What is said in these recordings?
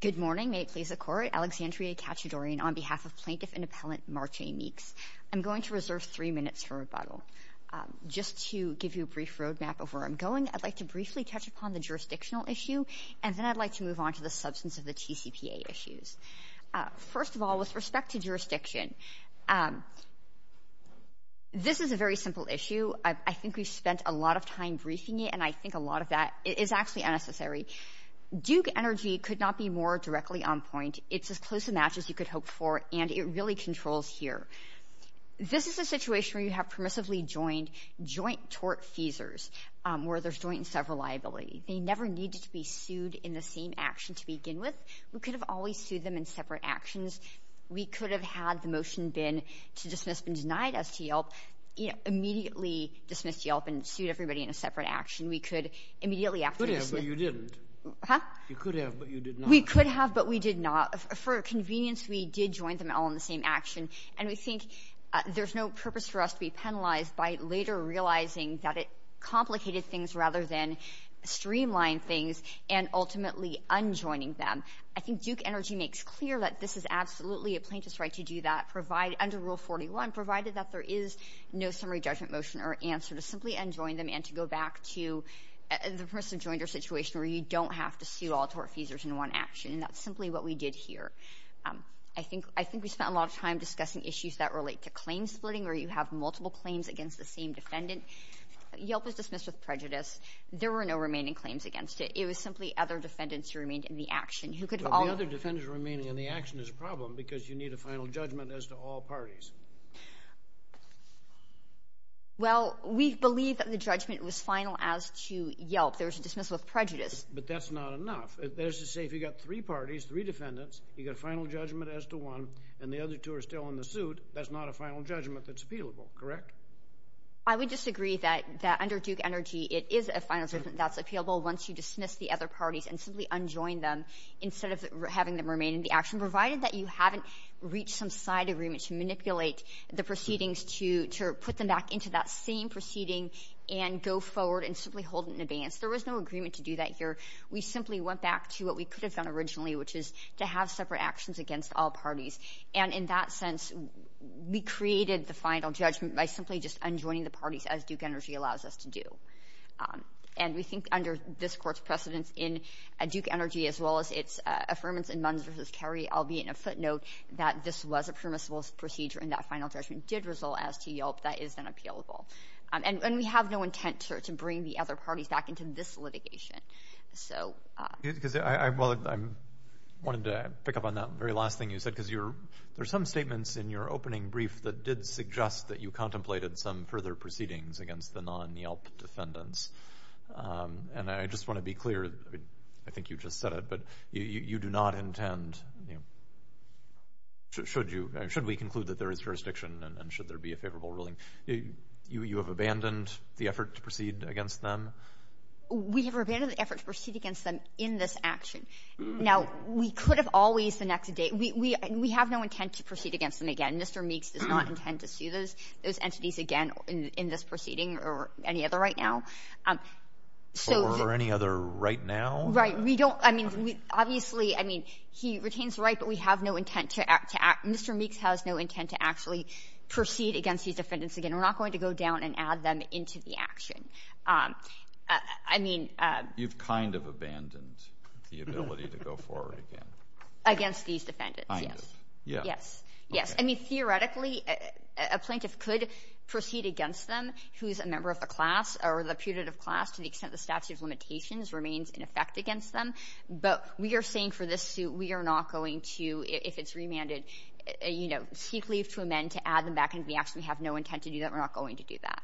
Good morning. May it please the Court. Alexandria Katchadourian on behalf of Plaintiff and Appellant Marche Meeks. I'm going to reserve three minutes for rebuttal. Just to give you a brief roadmap of where I'm going, I'd like to briefly touch upon the jurisdictional issue, and then I'd like to move on to the substance of the TCPA issues. First of all, with respect to jurisdiction, this is a very simple issue. I think we've spent a lot of time briefing it, and I think a lot of that is actually unnecessary. Duke Energy could not be more directly on point. It's as close a match as you could hope for, and it really controls here. This is a situation where you have permissively joined joint tort feasors, where there's joint and several liability. They never needed to be sued in the same action to begin with. We could have always sued them in separate actions. We could have had the motion been to dismiss, been denied as to Yelp, immediately dismissed Yelp and sued everybody in a separate action. We could immediately after dismiss— You could have, but you didn't. Huh? You could have, but you did not. We could have, but we did not. For convenience, we did join them all in the same action, and we think there's no purpose for us to be penalized by later realizing that it complicated things rather than streamlined things and ultimately unjoining them. I think Duke Energy makes clear that this is absolutely a plaintiff's right to do that under Rule 41, provided that there is no summary judgment motion or answer to simply unjoin them and to go back to the permissive jointer situation where you don't have to sue all tort feasors in one action, and that's simply what we did here. I think we spent a lot of time discussing issues that relate to claim splitting where you have multiple claims against the same defendant. Yelp was dismissed with prejudice. There were no remaining claims against it. It was simply other defendants who remained in the action who could have all— But the other defendants remaining in the action is a problem because you need a final judgment as to all parties. Well, we believe that the judgment was final as to Yelp. There was a dismissal of prejudice. But that's not enough. That is to say, if you've got three parties, three defendants, you've got a final judgment as to one, and the other two are still in the suit, that's not a final judgment that's appealable, correct? I would disagree that under Duke Energy it is a final judgment that's appealable once you dismiss the other parties and simply unjoin them instead of having them remain in the action, provided that you haven't reached some side agreement to manipulate the proceedings to put them back into that same proceeding and go forward and simply hold it in abeyance. There was no agreement to do that here. We simply went back to what we could have done originally, which is to have separate actions against all parties. And in that sense, we created the final judgment by simply just unjoining the parties as Duke Energy allows us to do. And we think under this Court's precedence in Duke Energy as well as its affirmance in Munns v. Carey, albeit in a footnote, that this was a permissible procedure and that final judgment did result as to Yelp. That is then appealable. And we have no intent to bring the other parties back into this litigation. I wanted to pick up on that very last thing you said, because there are some statements in your opening brief that did suggest that you contemplated some further proceedings against the non-Yelp defendants. And I just want to be clear, I think you just said it, but you do not intend, should we conclude that there is jurisdiction and should there be a favorable ruling, you have abandoned the effort to proceed against them? We have abandoned the effort to proceed against them in this action. Now, we could have always, the next day, we have no intent to proceed against them again. Mr. Meeks does not intend to see those entities again in this proceeding or any other right now. Or any other right now? Right. We don't, I mean, obviously, I mean, he retains the right, but we have no intent to act. We have no intent to actually proceed against these defendants again. We're not going to go down and add them into the action. I mean... You've kind of abandoned the ability to go forward again. Against these defendants, yes. Kind of. Yes. Yes. I mean, theoretically, a plaintiff could proceed against them who is a member of the class or the putative class to the extent the statute of limitations remains in effect against them. But we are saying for this suit, we are not going to, if it's remanded, you know, seek leave to amend to add them back into the action. We have no intent to do that. We're not going to do that.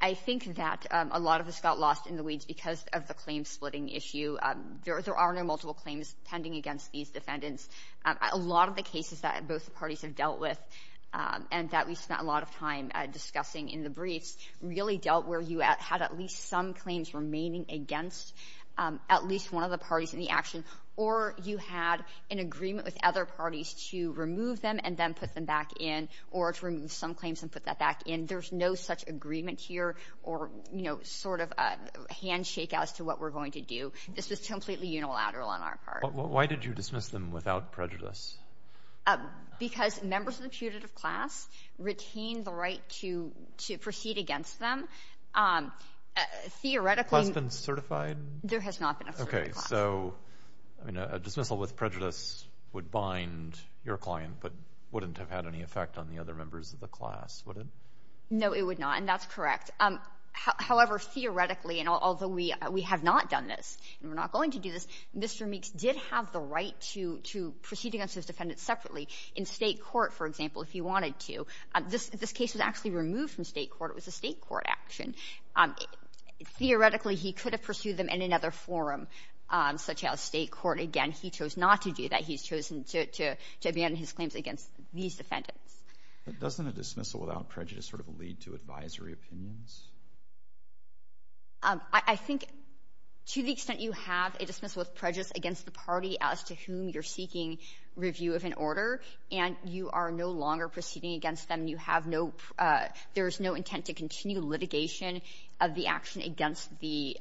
I think that a lot of this got lost in the weeds because of the claim-splitting issue. There are no multiple claims pending against these defendants. A lot of the cases that both parties have dealt with and that we spent a lot of time discussing in the briefs really dealt where you had at least some claims remaining against at least one of the parties in the action, or you had an agreement with other parties to remove them and then put them back in or to remove some claims and put that back in. There's no such agreement here or, you know, sort of a handshake as to what we're going to do. This was completely unilateral on our part. Why did you dismiss them without prejudice? Because members of the putative class retained the right to proceed against them. Theoretically — Has been certified? There has not been a certified class. Okay. So, I mean, a dismissal with prejudice would bind your client, but wouldn't have had any effect on the other members of the class, would it? No, it would not, and that's correct. However, theoretically, and although we have not done this and we're not going to do this, Mr. Meeks did have the right to proceed against his defendants separately in state court, for example, if he wanted to. This case was actually removed from state court. It was a state court action. Theoretically, he could have pursued them in another forum, such as state court. Again, he chose not to do that. He's chosen to abandon his claims against these defendants. But doesn't a dismissal without prejudice sort of lead to advisory opinions? I think to the extent you have a dismissal with prejudice against the party as to whom you're seeking review of an order, and you are no longer proceeding against them, you have no — there is no intent to continue litigation of the action against the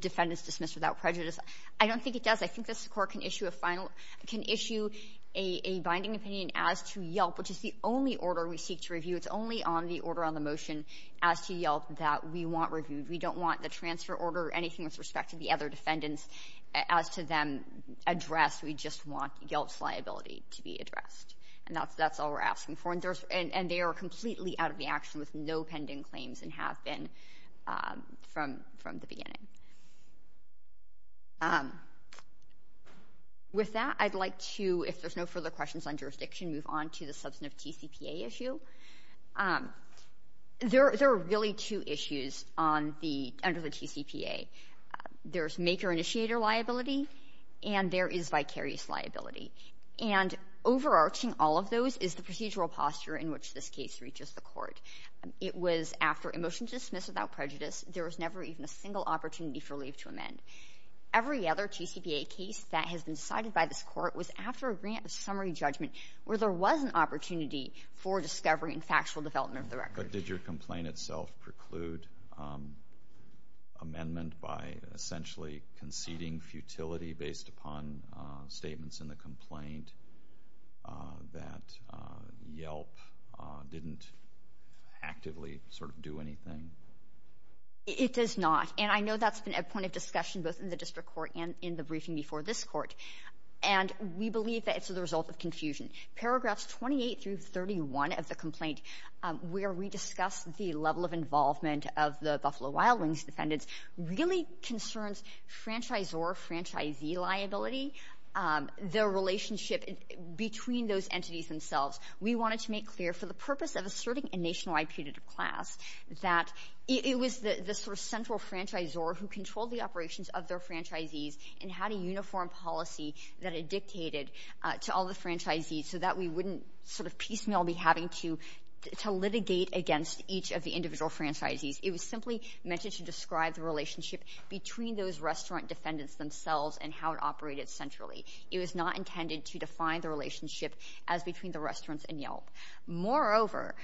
defendants dismissed without prejudice. I don't think it does. I think this Court can issue a final — can issue a binding opinion as to Yelp, which is the only order we seek to review. It's only on the order on the motion as to Yelp that we want reviewed. We don't want the transfer order or anything with respect to the other defendants as to them addressed. We just want Yelp's liability to be addressed. And that's all we're asking for. And they are completely out of the action with no pending claims and have been from the beginning. With that, I'd like to, if there's no further questions on jurisdiction, move on to the substantive TCPA issue. There are really two issues on the — under the TCPA. There's maker-initiator liability, and there is vicarious liability. And overarching all of those is the procedural posture in which this case reaches the Court. It was after a motion dismissed without prejudice. There was never even a single opportunity for leave to amend. Every other TCPA case that has been cited by this Court was after a grant of summary judgment where there was an opportunity for discovery and factual development of the record. But did your complaint itself preclude amendment by essentially conceding futility based upon statements in the complaint that Yelp didn't actively sort of do anything? It does not. And I know that's been a point of discussion both in the district court and in the briefing before this Court. And we believe that it's the result of confusion. Paragraphs 28 through 31 of the complaint where we discuss the level of involvement of the Buffalo Wild Wings defendants really concerns franchisor-franchisee liability, the relationship between those entities themselves. We wanted to make clear for the purpose of asserting a nationwide punitive class that it was the sort of central franchisor who controlled the operations of their that it dictated to all the franchisees so that we wouldn't sort of piecemeal be having to litigate against each of the individual franchisees. It was simply meant to describe the relationship between those restaurant defendants themselves and how it operated centrally. It was not intended to define the relationship as between the restaurants and Yelp. Moreover,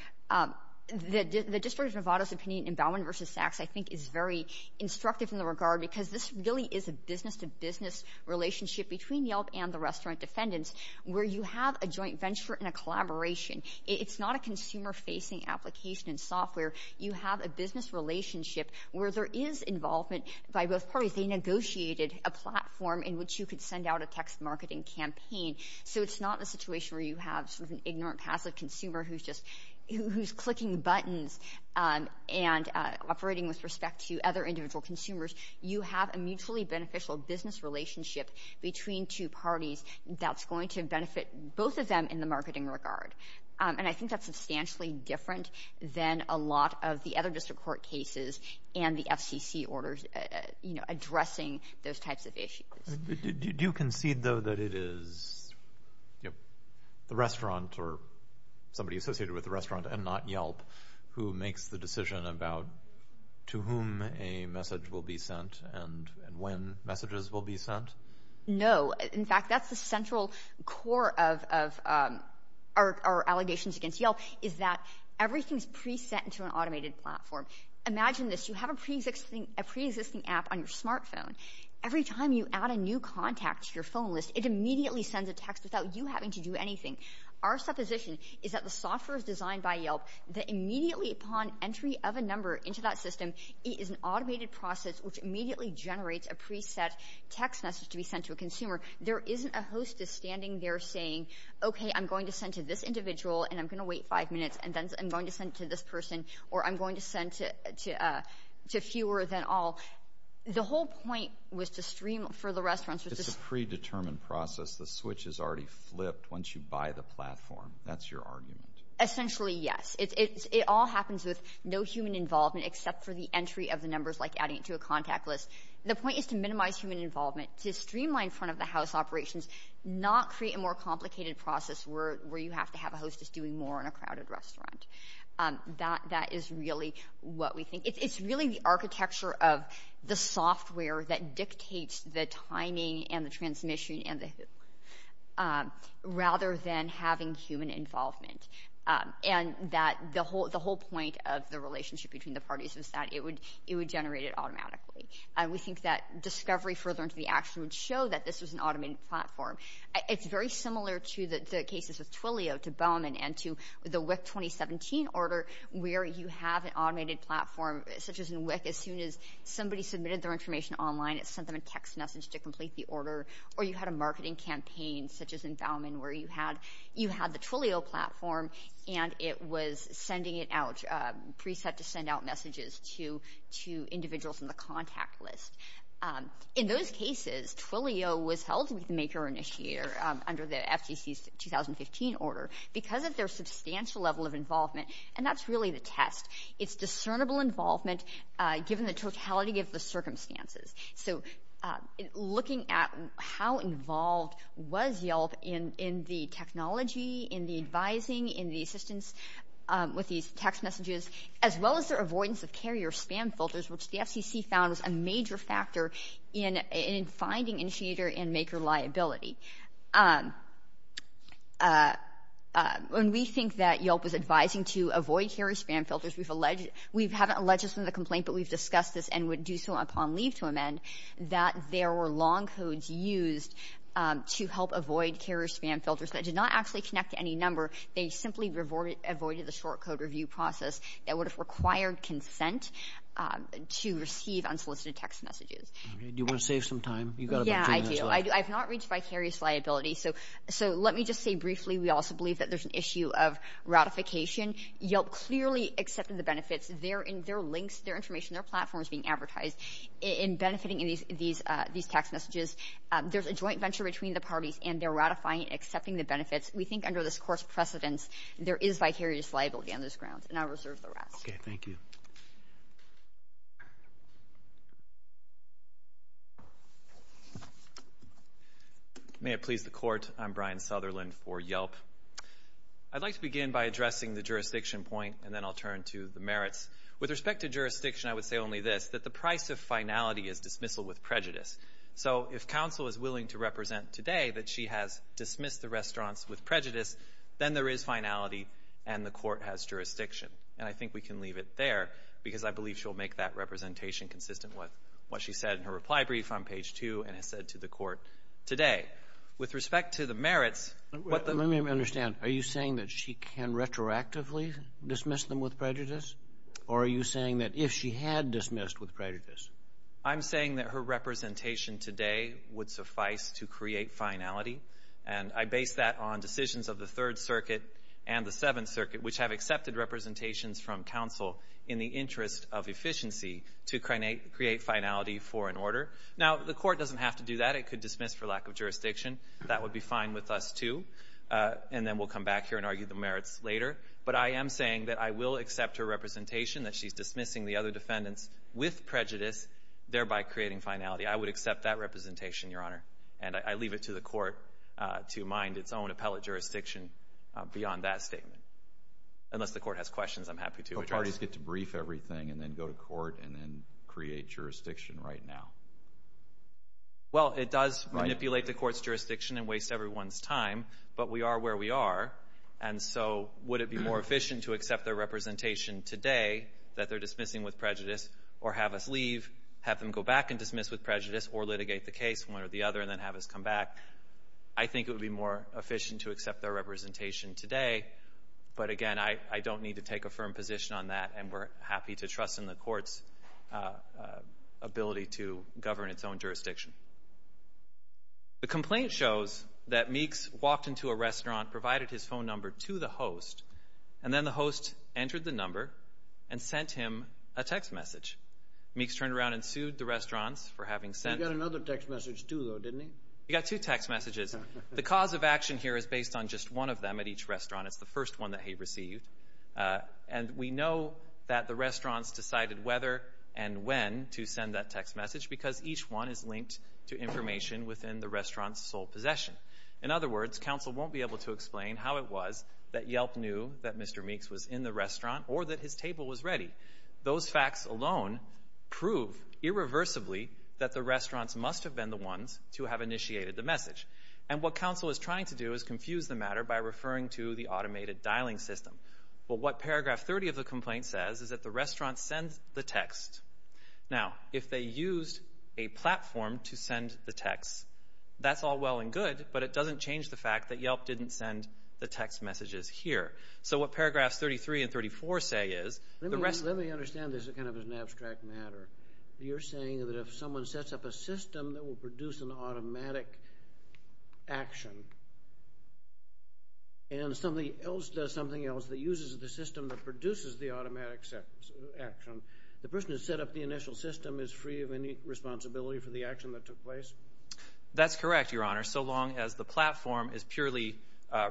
the District of Nevada's opinion in Bowman v. Saks I think is very instructive in the regard because this really is a business-to-business relationship between Yelp and the restaurant defendants where you have a joint venture and a collaboration. It's not a consumer-facing application and software. You have a business relationship where there is involvement by both parties. They negotiated a platform in which you could send out a text marketing campaign. So it's not a situation where you have sort of an ignorant, passive consumer who's just clicking buttons and operating with respect to other individual consumers. You have a mutually beneficial business relationship between two parties that's going to benefit both of them in the marketing regard. And I think that's substantially different than a lot of the other district court cases Do you concede, though, that it is the restaurant or somebody associated with the restaurant and not Yelp who makes the decision about to whom a message will be sent and when messages will be sent? No. In fact, that's the central core of our allegations against Yelp is that everything's pre-sent to an automated platform. Imagine this. You have a pre-existing app on your smartphone. Every time you add a new contact to your phone list, it immediately sends a text without you having to do anything. Our supposition is that the software is designed by Yelp that immediately upon entry of a number into that system, it is an automated process which immediately generates a pre-set text message to be sent to a consumer. There isn't a hostess standing there saying, OK, I'm going to send to this individual and I'm going to wait five minutes and then I'm going to send to this person or I'm going to send to fewer than all. Well, the whole point was to stream for the restaurants. It's a predetermined process. The switch is already flipped once you buy the platform. That's your argument. Essentially, yes. It all happens with no human involvement except for the entry of the numbers like adding it to a contact list. The point is to minimize human involvement, to streamline front-of-the-house operations, not create a more complicated process where you have to have a hostess doing more in a crowded restaurant. That is really what we think. It's really the architecture of the software that dictates the timing and the transmission rather than having human involvement. The whole point of the relationship between the parties was that it would generate it automatically. We think that discovery further into the action would show that this was an automated platform. It's very similar to the cases with Twilio, to Bowman, and to the WIC 2017 order where you have an automated platform such as in WIC. As soon as somebody submitted their information online, it sent them a text message to complete the order, or you had a marketing campaign such as in Bowman where you had the Twilio platform and it was sending it out, preset to send out messages to individuals in the contact list. In those cases, Twilio was held to be the maker or initiator under the FCC's 2015 order because of their substantial level of involvement, and that's really the test. It's discernible involvement given the totality of the circumstances. Looking at how involved was Yelp in the technology, in the advising, in the assistance with these text messages, as well as their avoidance of carrier spam filters, which the FCC found was a major factor in finding initiator and maker liability. When we think that Yelp was advising to avoid carrier spam filters, we haven't alleged this in the complaint, but we've discussed this and would do so upon leave to amend, that there were long codes used to help avoid carrier spam filters that did not actually connect to any number. They simply avoided the short code review process that would have required consent to receive unsolicited text messages. Do you want to save some time? Yeah, I do. I've not reached vicarious liability, so let me just say briefly we also believe that there's an issue of ratification. Yelp clearly accepted the benefits. Their links, their information, their platform is being advertised in benefiting these text messages. There's a joint venture between the parties, and they're ratifying and accepting the benefits. We think under this course of precedence, there is vicarious liability on this ground, and I'll reserve the rest. Okay, thank you. May it please the Court, I'm Brian Sutherland for Yelp. I'd like to begin by addressing the jurisdiction point, and then I'll turn to the merits. With respect to jurisdiction, I would say only this, that the price of finality is dismissal with prejudice. So if counsel is willing to represent today that she has dismissed the restaurants with prejudice, then there is finality and the Court has jurisdiction, and I think we can leave it there because I believe she'll make that representation consistent with what she said in her reply brief on page 2 and has said to the Court today. With respect to the merits, what the ---- Let me understand. Are you saying that she can retroactively dismiss them with prejudice, or are you saying that if she had dismissed with prejudice? I'm saying that her representation today would suffice to create finality, and I base that on decisions of the Third Circuit and the Seventh Circuit, which have accepted representations from counsel in the interest of efficiency to create finality for an order. Now, the Court doesn't have to do that. It could dismiss for lack of jurisdiction. That would be fine with us, too, and then we'll come back here and argue the merits later. But I am saying that I will accept her representation, that she's dismissing the other defendants with prejudice, thereby creating finality. I would accept that representation, Your Honor, and I leave it to the Court to mind its own appellate jurisdiction beyond that statement. Unless the Court has questions, I'm happy to address it. So parties get to brief everything and then go to court and then create jurisdiction right now? Well, it does manipulate the Court's jurisdiction and waste everyone's time, but we are where we are, and so would it be more efficient to accept their representation today that they're dismissing with prejudice or have us leave, have them go back and dismiss with prejudice, or litigate the case one or the other and then have us come back? I think it would be more efficient to accept their representation today, but, again, I don't need to take a firm position on that, and we're happy to trust in the Court's ability to govern its own jurisdiction. The complaint shows that Meeks walked into a restaurant, provided his phone number to the host, and then the host entered the number and sent him a text message. Meeks turned around and sued the restaurants for having sent... He got another text message, too, though, didn't he? He got two text messages. The cause of action here is based on just one of them at each restaurant. It's the first one that he received, and we know that the restaurants decided whether and when to send that text message because each one is linked to information within the restaurant's sole possession. In other words, counsel won't be able to explain how it was that Yelp knew that Mr. Meeks was in the restaurant or that his table was ready. Those facts alone prove irreversibly that the restaurants must have been the ones to have initiated the message. And what counsel is trying to do is confuse the matter by referring to the automated dialing system. But what paragraph 30 of the complaint says is that the restaurants sent the text. Now, if they used a platform to send the text, that's all well and good, but it doesn't change the fact that Yelp didn't send the text messages here. So what paragraphs 33 and 34 say is... Let me understand this as kind of an abstract matter. You're saying that if someone sets up a system that will produce an automatic action and somebody else does something else that uses the system that produces the automatic action, the person who set up the initial system is free of any responsibility for the action that took place? That's correct, Your Honor, so long as the platform is purely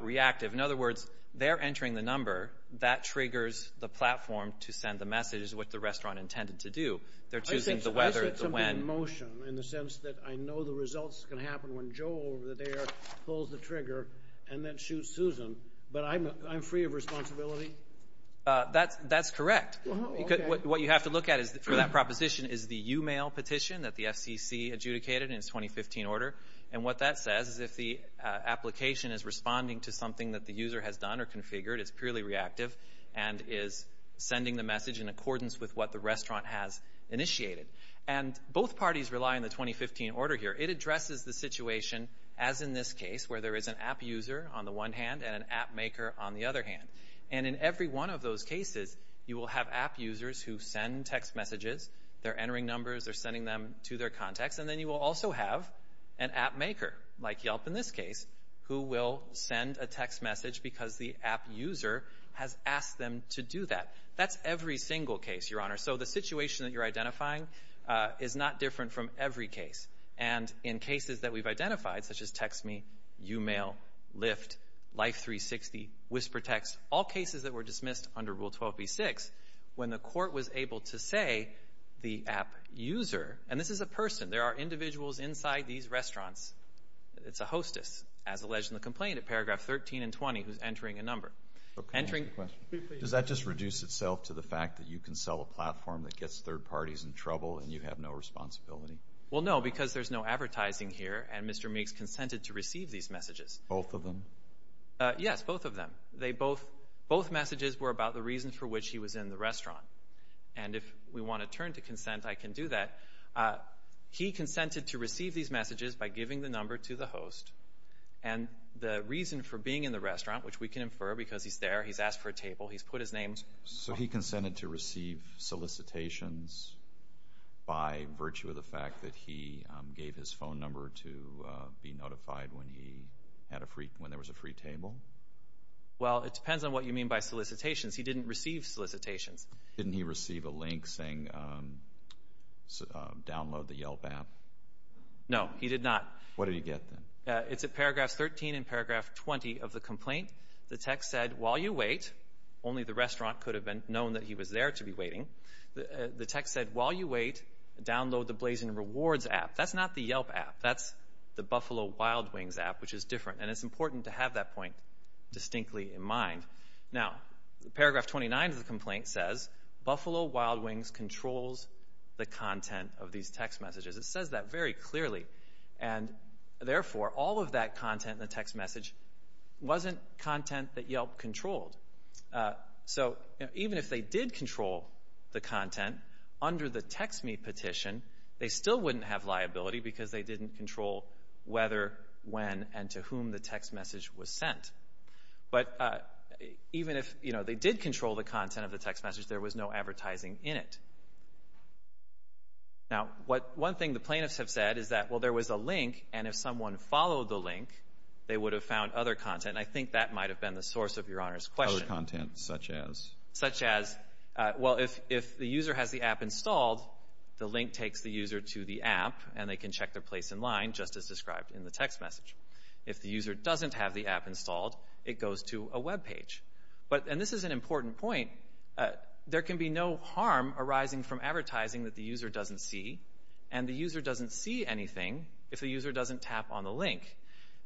reactive. In other words, they're entering the number that triggers the platform to send the messages, what the restaurant intended to do. They're choosing the weather, the when. I said something in motion in the sense that I know the results can happen when Joel over there pulls the trigger and then shoots Susan, but I'm free of responsibility? That's correct. What you have to look at for that proposition is the e-mail petition that the FCC adjudicated in its 2015 order, and what that says is if the application is responding to something that the user has done or configured, it's purely reactive and is sending the message in accordance with what the restaurant has initiated. And both parties rely on the 2015 order here. It addresses the situation, as in this case, where there is an app user on the one hand and an app maker on the other hand. And in every one of those cases, you will have app users who send text messages. They're entering numbers. They're sending them to their contacts. And then you will also have an app maker, like Yelp in this case, who will send a text message because the app user has asked them to do that. That's every single case, Your Honor. So the situation that you're identifying is not different from every case. And in cases that we've identified, such as text me, e-mail, Lyft, Life360, WhisperText, all cases that were dismissed under Rule 12b-6, when the court was able to say the app user, and this is a person, there are individuals inside these restaurants, it's a hostess, as alleged in the complaint at paragraph 13 and 20 who's entering a number. Does that just reduce itself to the fact that you can sell a platform that gets third parties in trouble and you have no responsibility? Well, no, because there's no advertising here, and Mr. Meeks consented to receive these messages. Both of them? Yes, both of them. Both messages were about the reason for which he was in the restaurant. And if we want to turn to consent, I can do that. He consented to receive these messages by giving the number to the host, and the reason for being in the restaurant, which we can infer because he's there, he's asked for a table, he's put his name. So he consented to receive solicitations by virtue of the fact that he gave his phone number to be notified when there was a free table? Well, it depends on what you mean by solicitations. He didn't receive solicitations. Didn't he receive a link saying download the Yelp app? No, he did not. What did he get then? It's at paragraph 13 and paragraph 20 of the complaint. The text said, while you wait, only the restaurant could have known that he was there to be waiting. The text said, while you wait, download the Blazin' Rewards app. That's not the Yelp app. That's the Buffalo Wild Wings app, which is different. And it's important to have that point distinctly in mind. Now, paragraph 29 of the complaint says, Buffalo Wild Wings controls the content of these text messages. It says that very clearly. And, therefore, all of that content in the text message wasn't content that Yelp controlled. So even if they did control the content under the text me petition, they still wouldn't have liability because they didn't control whether, when, and to whom the text message was sent. But even if they did control the content of the text message, there was no advertising in it. Now, one thing the plaintiffs have said is that, well, there was a link, and if someone followed the link, they would have found other content. And I think that might have been the source of Your Honor's question. Other content, such as? Such as, well, if the user has the app installed, the link takes the user to the app, and they can check their place in line, just as described in the text message. If the user doesn't have the app installed, it goes to a Web page. And this is an important point. There can be no harm arising from advertising that the user doesn't see, and the user doesn't see anything if the user doesn't tap on the link.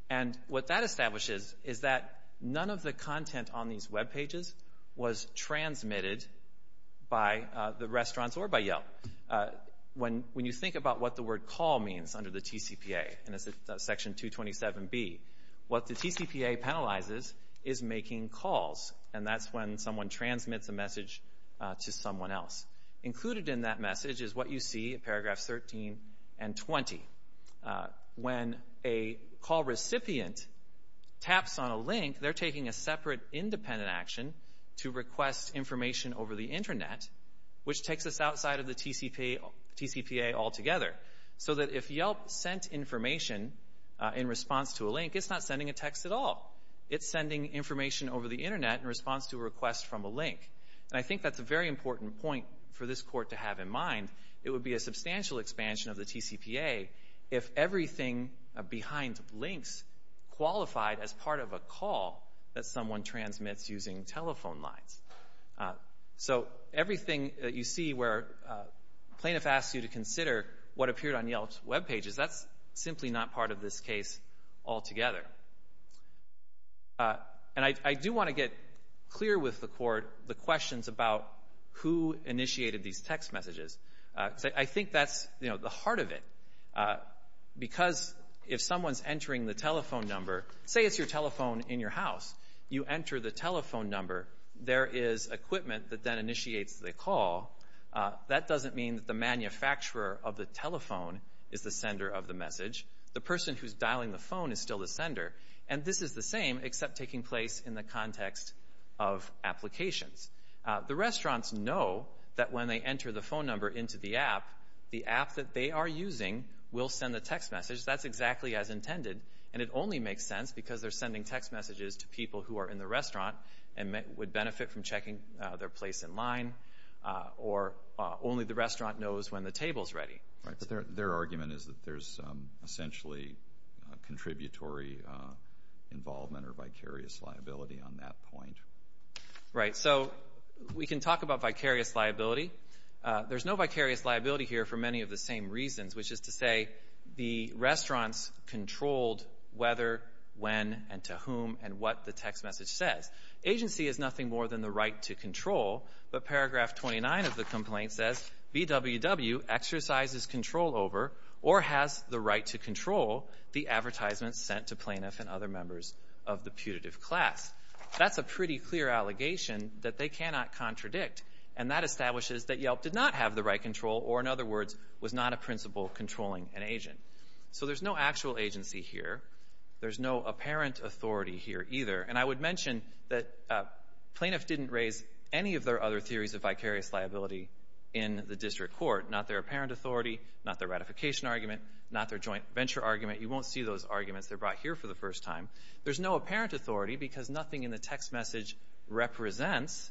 And what that establishes is that none of the content on these Web pages was transmitted by the restaurants or by Yelp. When you think about what the word call means under the TCPA, and it's Section 227B, what the TCPA penalizes is making calls. And that's when someone transmits a message to someone else. Included in that message is what you see in paragraphs 13 and 20. When a call recipient taps on a link, they're taking a separate independent action to request information over the Internet, which takes us outside of the TCPA altogether. So that if Yelp sent information in response to a link, it's not sending a text at all. It's sending information over the Internet in response to a request from a link. And I think that's a very important point for this Court to have in mind. It would be a substantial expansion of the TCPA if everything behind links qualified as part of a call that someone transmits using telephone lines. So everything that you see where a plaintiff asks you to consider what appeared on Yelp's Web pages, that's simply not part of this case altogether. And I do want to get clear with the Court the questions about who initiated these text messages. I think that's the heart of it. Because if someone's entering the telephone number, say it's your telephone in your house, you enter the telephone number, there is equipment that then initiates the call. That doesn't mean that the manufacturer of the telephone is the sender of the message. The person who's dialing the phone is still the sender. And this is the same except taking place in the context of applications. The restaurants know that when they enter the phone number into the app, the app that they are using will send the text message. That's exactly as intended. And it only makes sense because they're sending text messages to people who are in the restaurant and would benefit from checking their place in line. Or only the restaurant knows when the table is ready. But their argument is that there's essentially contributory involvement or vicarious liability on that point. Right. So we can talk about vicarious liability. There's no vicarious liability here for many of the same reasons, which is to say the restaurants controlled whether, when, and to whom, and what the text message says. Agency is nothing more than the right to control. But paragraph 29 of the complaint says, BWW exercises control over or has the right to control the advertisements sent to plaintiffs and other members of the putative class. That's a pretty clear allegation that they cannot contradict. And that establishes that Yelp did not have the right control, or, in other words, was not a principle controlling an agent. So there's no actual agency here. There's no apparent authority here either. And I would mention that plaintiffs didn't raise any of their other theories of vicarious liability in the district court. Not their apparent authority, not their ratification argument, not their joint venture argument. You won't see those arguments. They're brought here for the first time. There's no apparent authority because nothing in the text message represents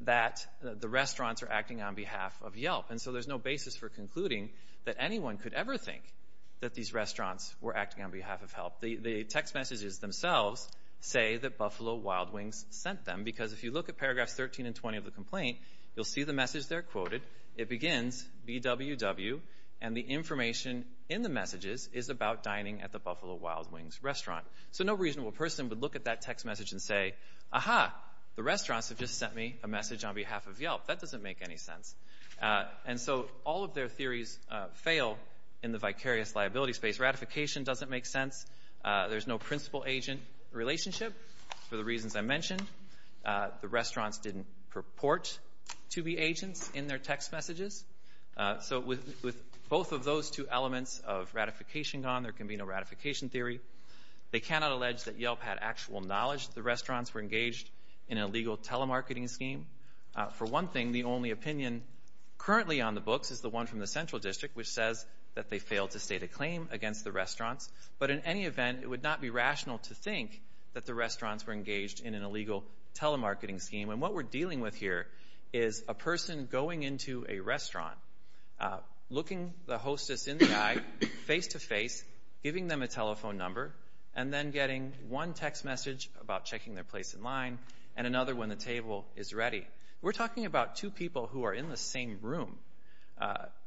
that the restaurants are acting on behalf of Yelp. And so there's no basis for concluding that anyone could ever think that these restaurants were acting on behalf of Yelp. The text messages themselves say that Buffalo Wild Wings sent them. Because if you look at paragraphs 13 and 20 of the complaint, you'll see the message there quoted. It begins, BWW, and the information in the messages is about dining at the Buffalo Wild Wings restaurant. So no reasonable person would look at that text message and say, Aha, the restaurants have just sent me a message on behalf of Yelp. That doesn't make any sense. And so all of their theories fail in the vicarious liability space. Ratification doesn't make sense. There's no principal agent relationship for the reasons I mentioned. The restaurants didn't purport to be agents in their text messages. So with both of those two elements of ratification gone, there can be no ratification theory. They cannot allege that Yelp had actual knowledge that the restaurants were engaged in an illegal telemarketing scheme. For one thing, the only opinion currently on the books is the one from the Central District, which says that they failed to state a claim against the restaurants. But in any event, it would not be rational to think that the restaurants were engaged in an illegal telemarketing scheme. And what we're dealing with here is a person going into a restaurant, looking the hostess in the eye face-to-face, giving them a telephone number, and then getting one text message about checking their place in line and another when the table is ready. We're talking about two people who are in the same room.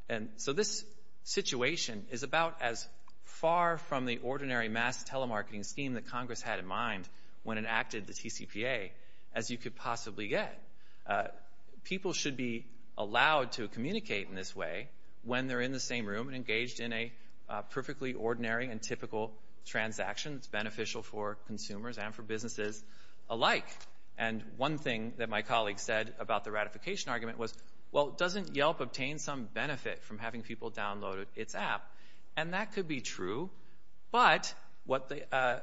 And so this situation is about as far from the ordinary mass telemarketing scheme that Congress had in mind when it enacted the TCPA as you could possibly get. People should be allowed to communicate in this way when they're in the same room and engaged in a perfectly ordinary and typical transaction that's beneficial for consumers and for businesses alike. And one thing that my colleague said about the ratification argument was, well, doesn't Yelp obtain some benefit from having people download its app? And that could be true. But what the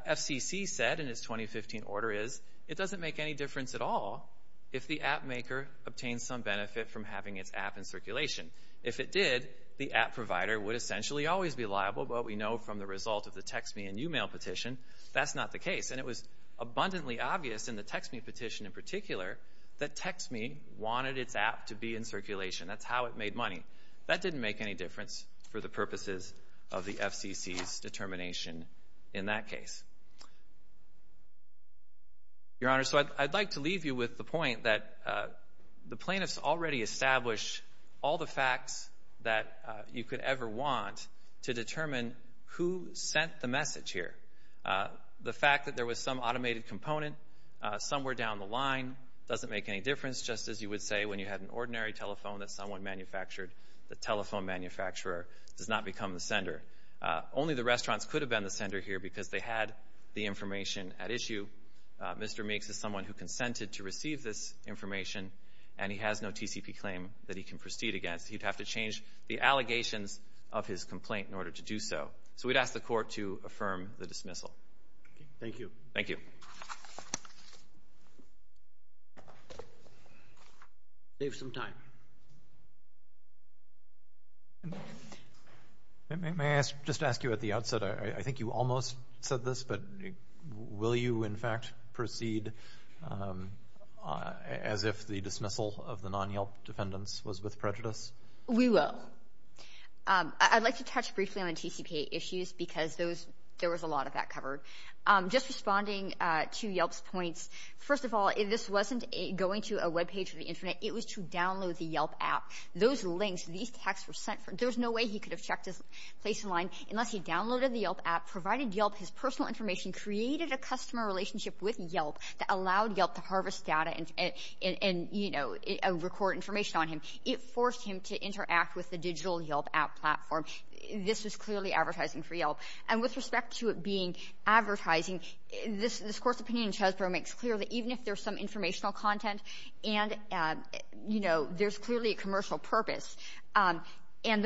FCC said in its 2015 order is it doesn't make any difference at all if the app maker obtains some benefit from having its app in circulation. If it did, the app provider would essentially always be liable, but we know from the result of the text me and e-mail petition that's not the case. And it was abundantly obvious in the text me petition in particular that text me wanted its app to be in circulation. That's how it made money. That didn't make any difference for the purposes of the FCC's determination in that case. Your Honor, so I'd like to leave you with the point that the plaintiffs already established all the facts that you could ever want to determine who sent the message here. The fact that there was some automated component somewhere down the line doesn't make any difference, just as you would say when you had an ordinary telephone that someone manufactured, the telephone manufacturer does not become the sender. Only the restaurants could have been the sender here because they had the information at issue. Mr. Meeks is someone who consented to receive this information, and he has no TCP claim that he can proceed against. He'd have to change the allegations of his complaint in order to do so. So we'd ask the Court to affirm the dismissal. Thank you. Thank you. Save some time. May I just ask you at the outset, I think you almost said this, but will you in fact proceed as if the dismissal of the non-Yelp defendants was with prejudice? We will. I'd like to touch briefly on the TCPA issues because there was a lot of that covered. Just responding to Yelp's points, first of all, this wasn't going to a Web page or the Internet. It was to download the Yelp app. Those links, these texts were sent. There was no way he could have checked his place in line unless he downloaded the Yelp app, provided Yelp his personal information, created a customer relationship with Yelp that allowed Yelp to harvest data and record information on him. It forced him to interact with the digital Yelp app platform. This was clearly advertising for Yelp. And with respect to it being advertising, this Court's opinion in Chesbrough makes clear that even if there's some informational content and, you know, there's clearly a commercial purpose, and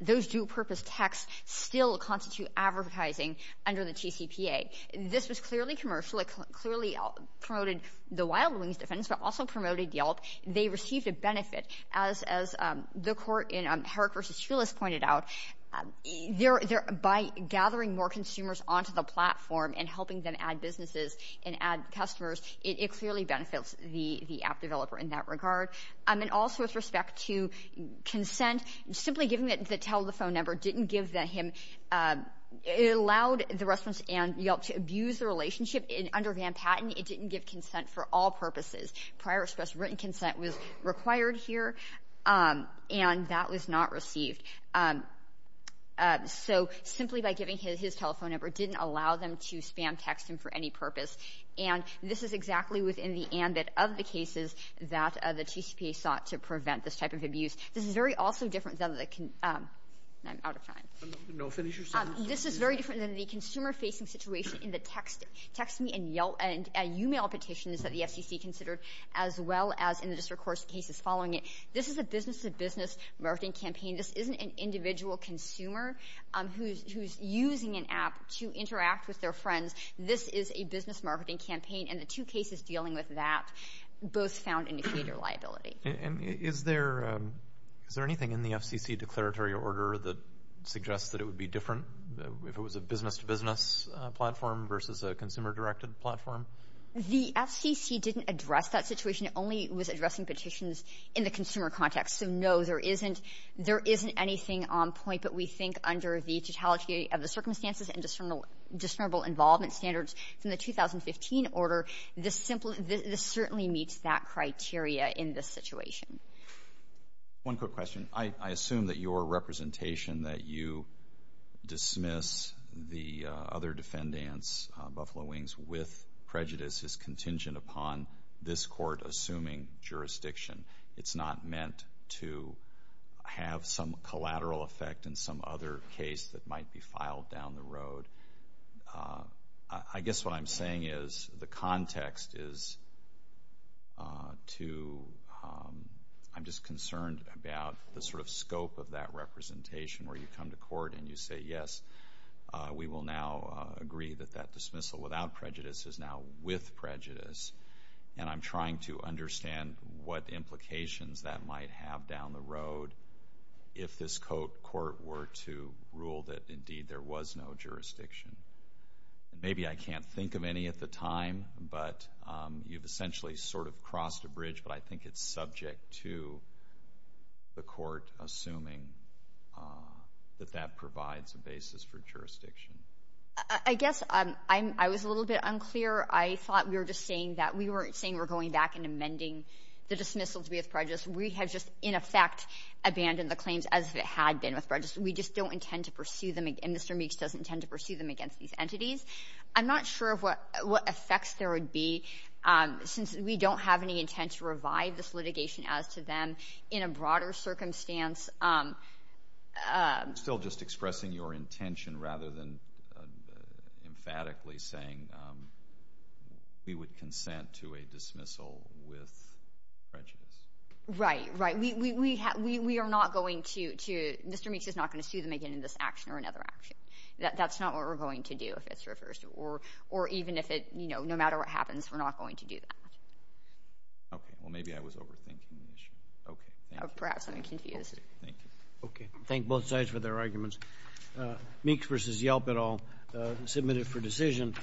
those dual-purpose texts still constitute advertising under the TCPA. This was clearly commercial. It clearly promoted the Wild Wings defendants but also promoted Yelp. They received a benefit. As the Court in Herrick v. Shulis pointed out, by gathering more consumers onto the platform and helping them add businesses and add customers, it clearly benefits the app developer in that regard. And also with respect to consent, simply giving the teller the phone number didn't give him, it allowed the restaurants and Yelp to abuse the relationship under Van Patten. It didn't give consent for all purposes. Prior express written consent was required here, and that was not received. So simply by giving his telephone number didn't allow them to spam text him for any purpose. And this is exactly within the ambit of the cases that the TCPA sought to prevent this type of abuse. This is very also different than the — I'm out of time. No, finish your sentence. This is very different than the consumer-facing situation in the text me and Yelp and e-mail petitions that the FCC considered as well as in the district court cases following it. This is a business-to-business marketing campaign. This isn't an individual consumer who's using an app to interact with their friends. This is a business marketing campaign, and the two cases dealing with that both found indicator liability. And is there anything in the FCC declaratory order that suggests that it would be different if it was a business-to-business platform versus a consumer-directed platform? The FCC didn't address that situation. It only was addressing petitions in the consumer context. So, no, there isn't anything on point. But we think under the totality of the circumstances and discernible involvement standards from the 2015 order, this certainly meets that criteria in this situation. One quick question. I assume that your representation that you dismiss the other defendants, Buffalo Wings, with prejudice, is contingent upon this court assuming jurisdiction. It's not meant to have some collateral effect in some other case that might be filed down the road. I guess what I'm saying is the context is to, I'm just concerned about the sort of scope of that representation where you come to court and you say, yes, we will now agree that that dismissal without prejudice is now with prejudice. And I'm trying to understand what implications that might have down the road if this court were to rule that, indeed, there was no jurisdiction. Maybe I can't think of any at the time, but you've essentially sort of crossed a bridge, but I think it's subject to the court assuming that that provides a basis for jurisdiction. I guess I was a little bit unclear. I thought we were just saying that we weren't saying we're going back and amending the dismissal to be with prejudice. We have just, in effect, abandoned the claims as if it had been with prejudice. We just don't intend to pursue them, and Mr. Meeks doesn't intend to pursue them against these entities. I'm not sure of what effects there would be, since we don't have any intent to revive this litigation as to them in a broader circumstance. Still just expressing your intention rather than emphatically saying we would consent to a dismissal with prejudice. Right, right. We are not going to. Mr. Meeks is not going to sue them again in this action or another action. That's not what we're going to do if it's reversed. Or even if it, you know, no matter what happens, we're not going to do that. Okay. Well, maybe I was overthinking the issue. Okay. Thank you. Perhaps I'm confused. Thank you. Okay. Thank both sides for their arguments. Meeks v. Yelp et al. Submitted for decision.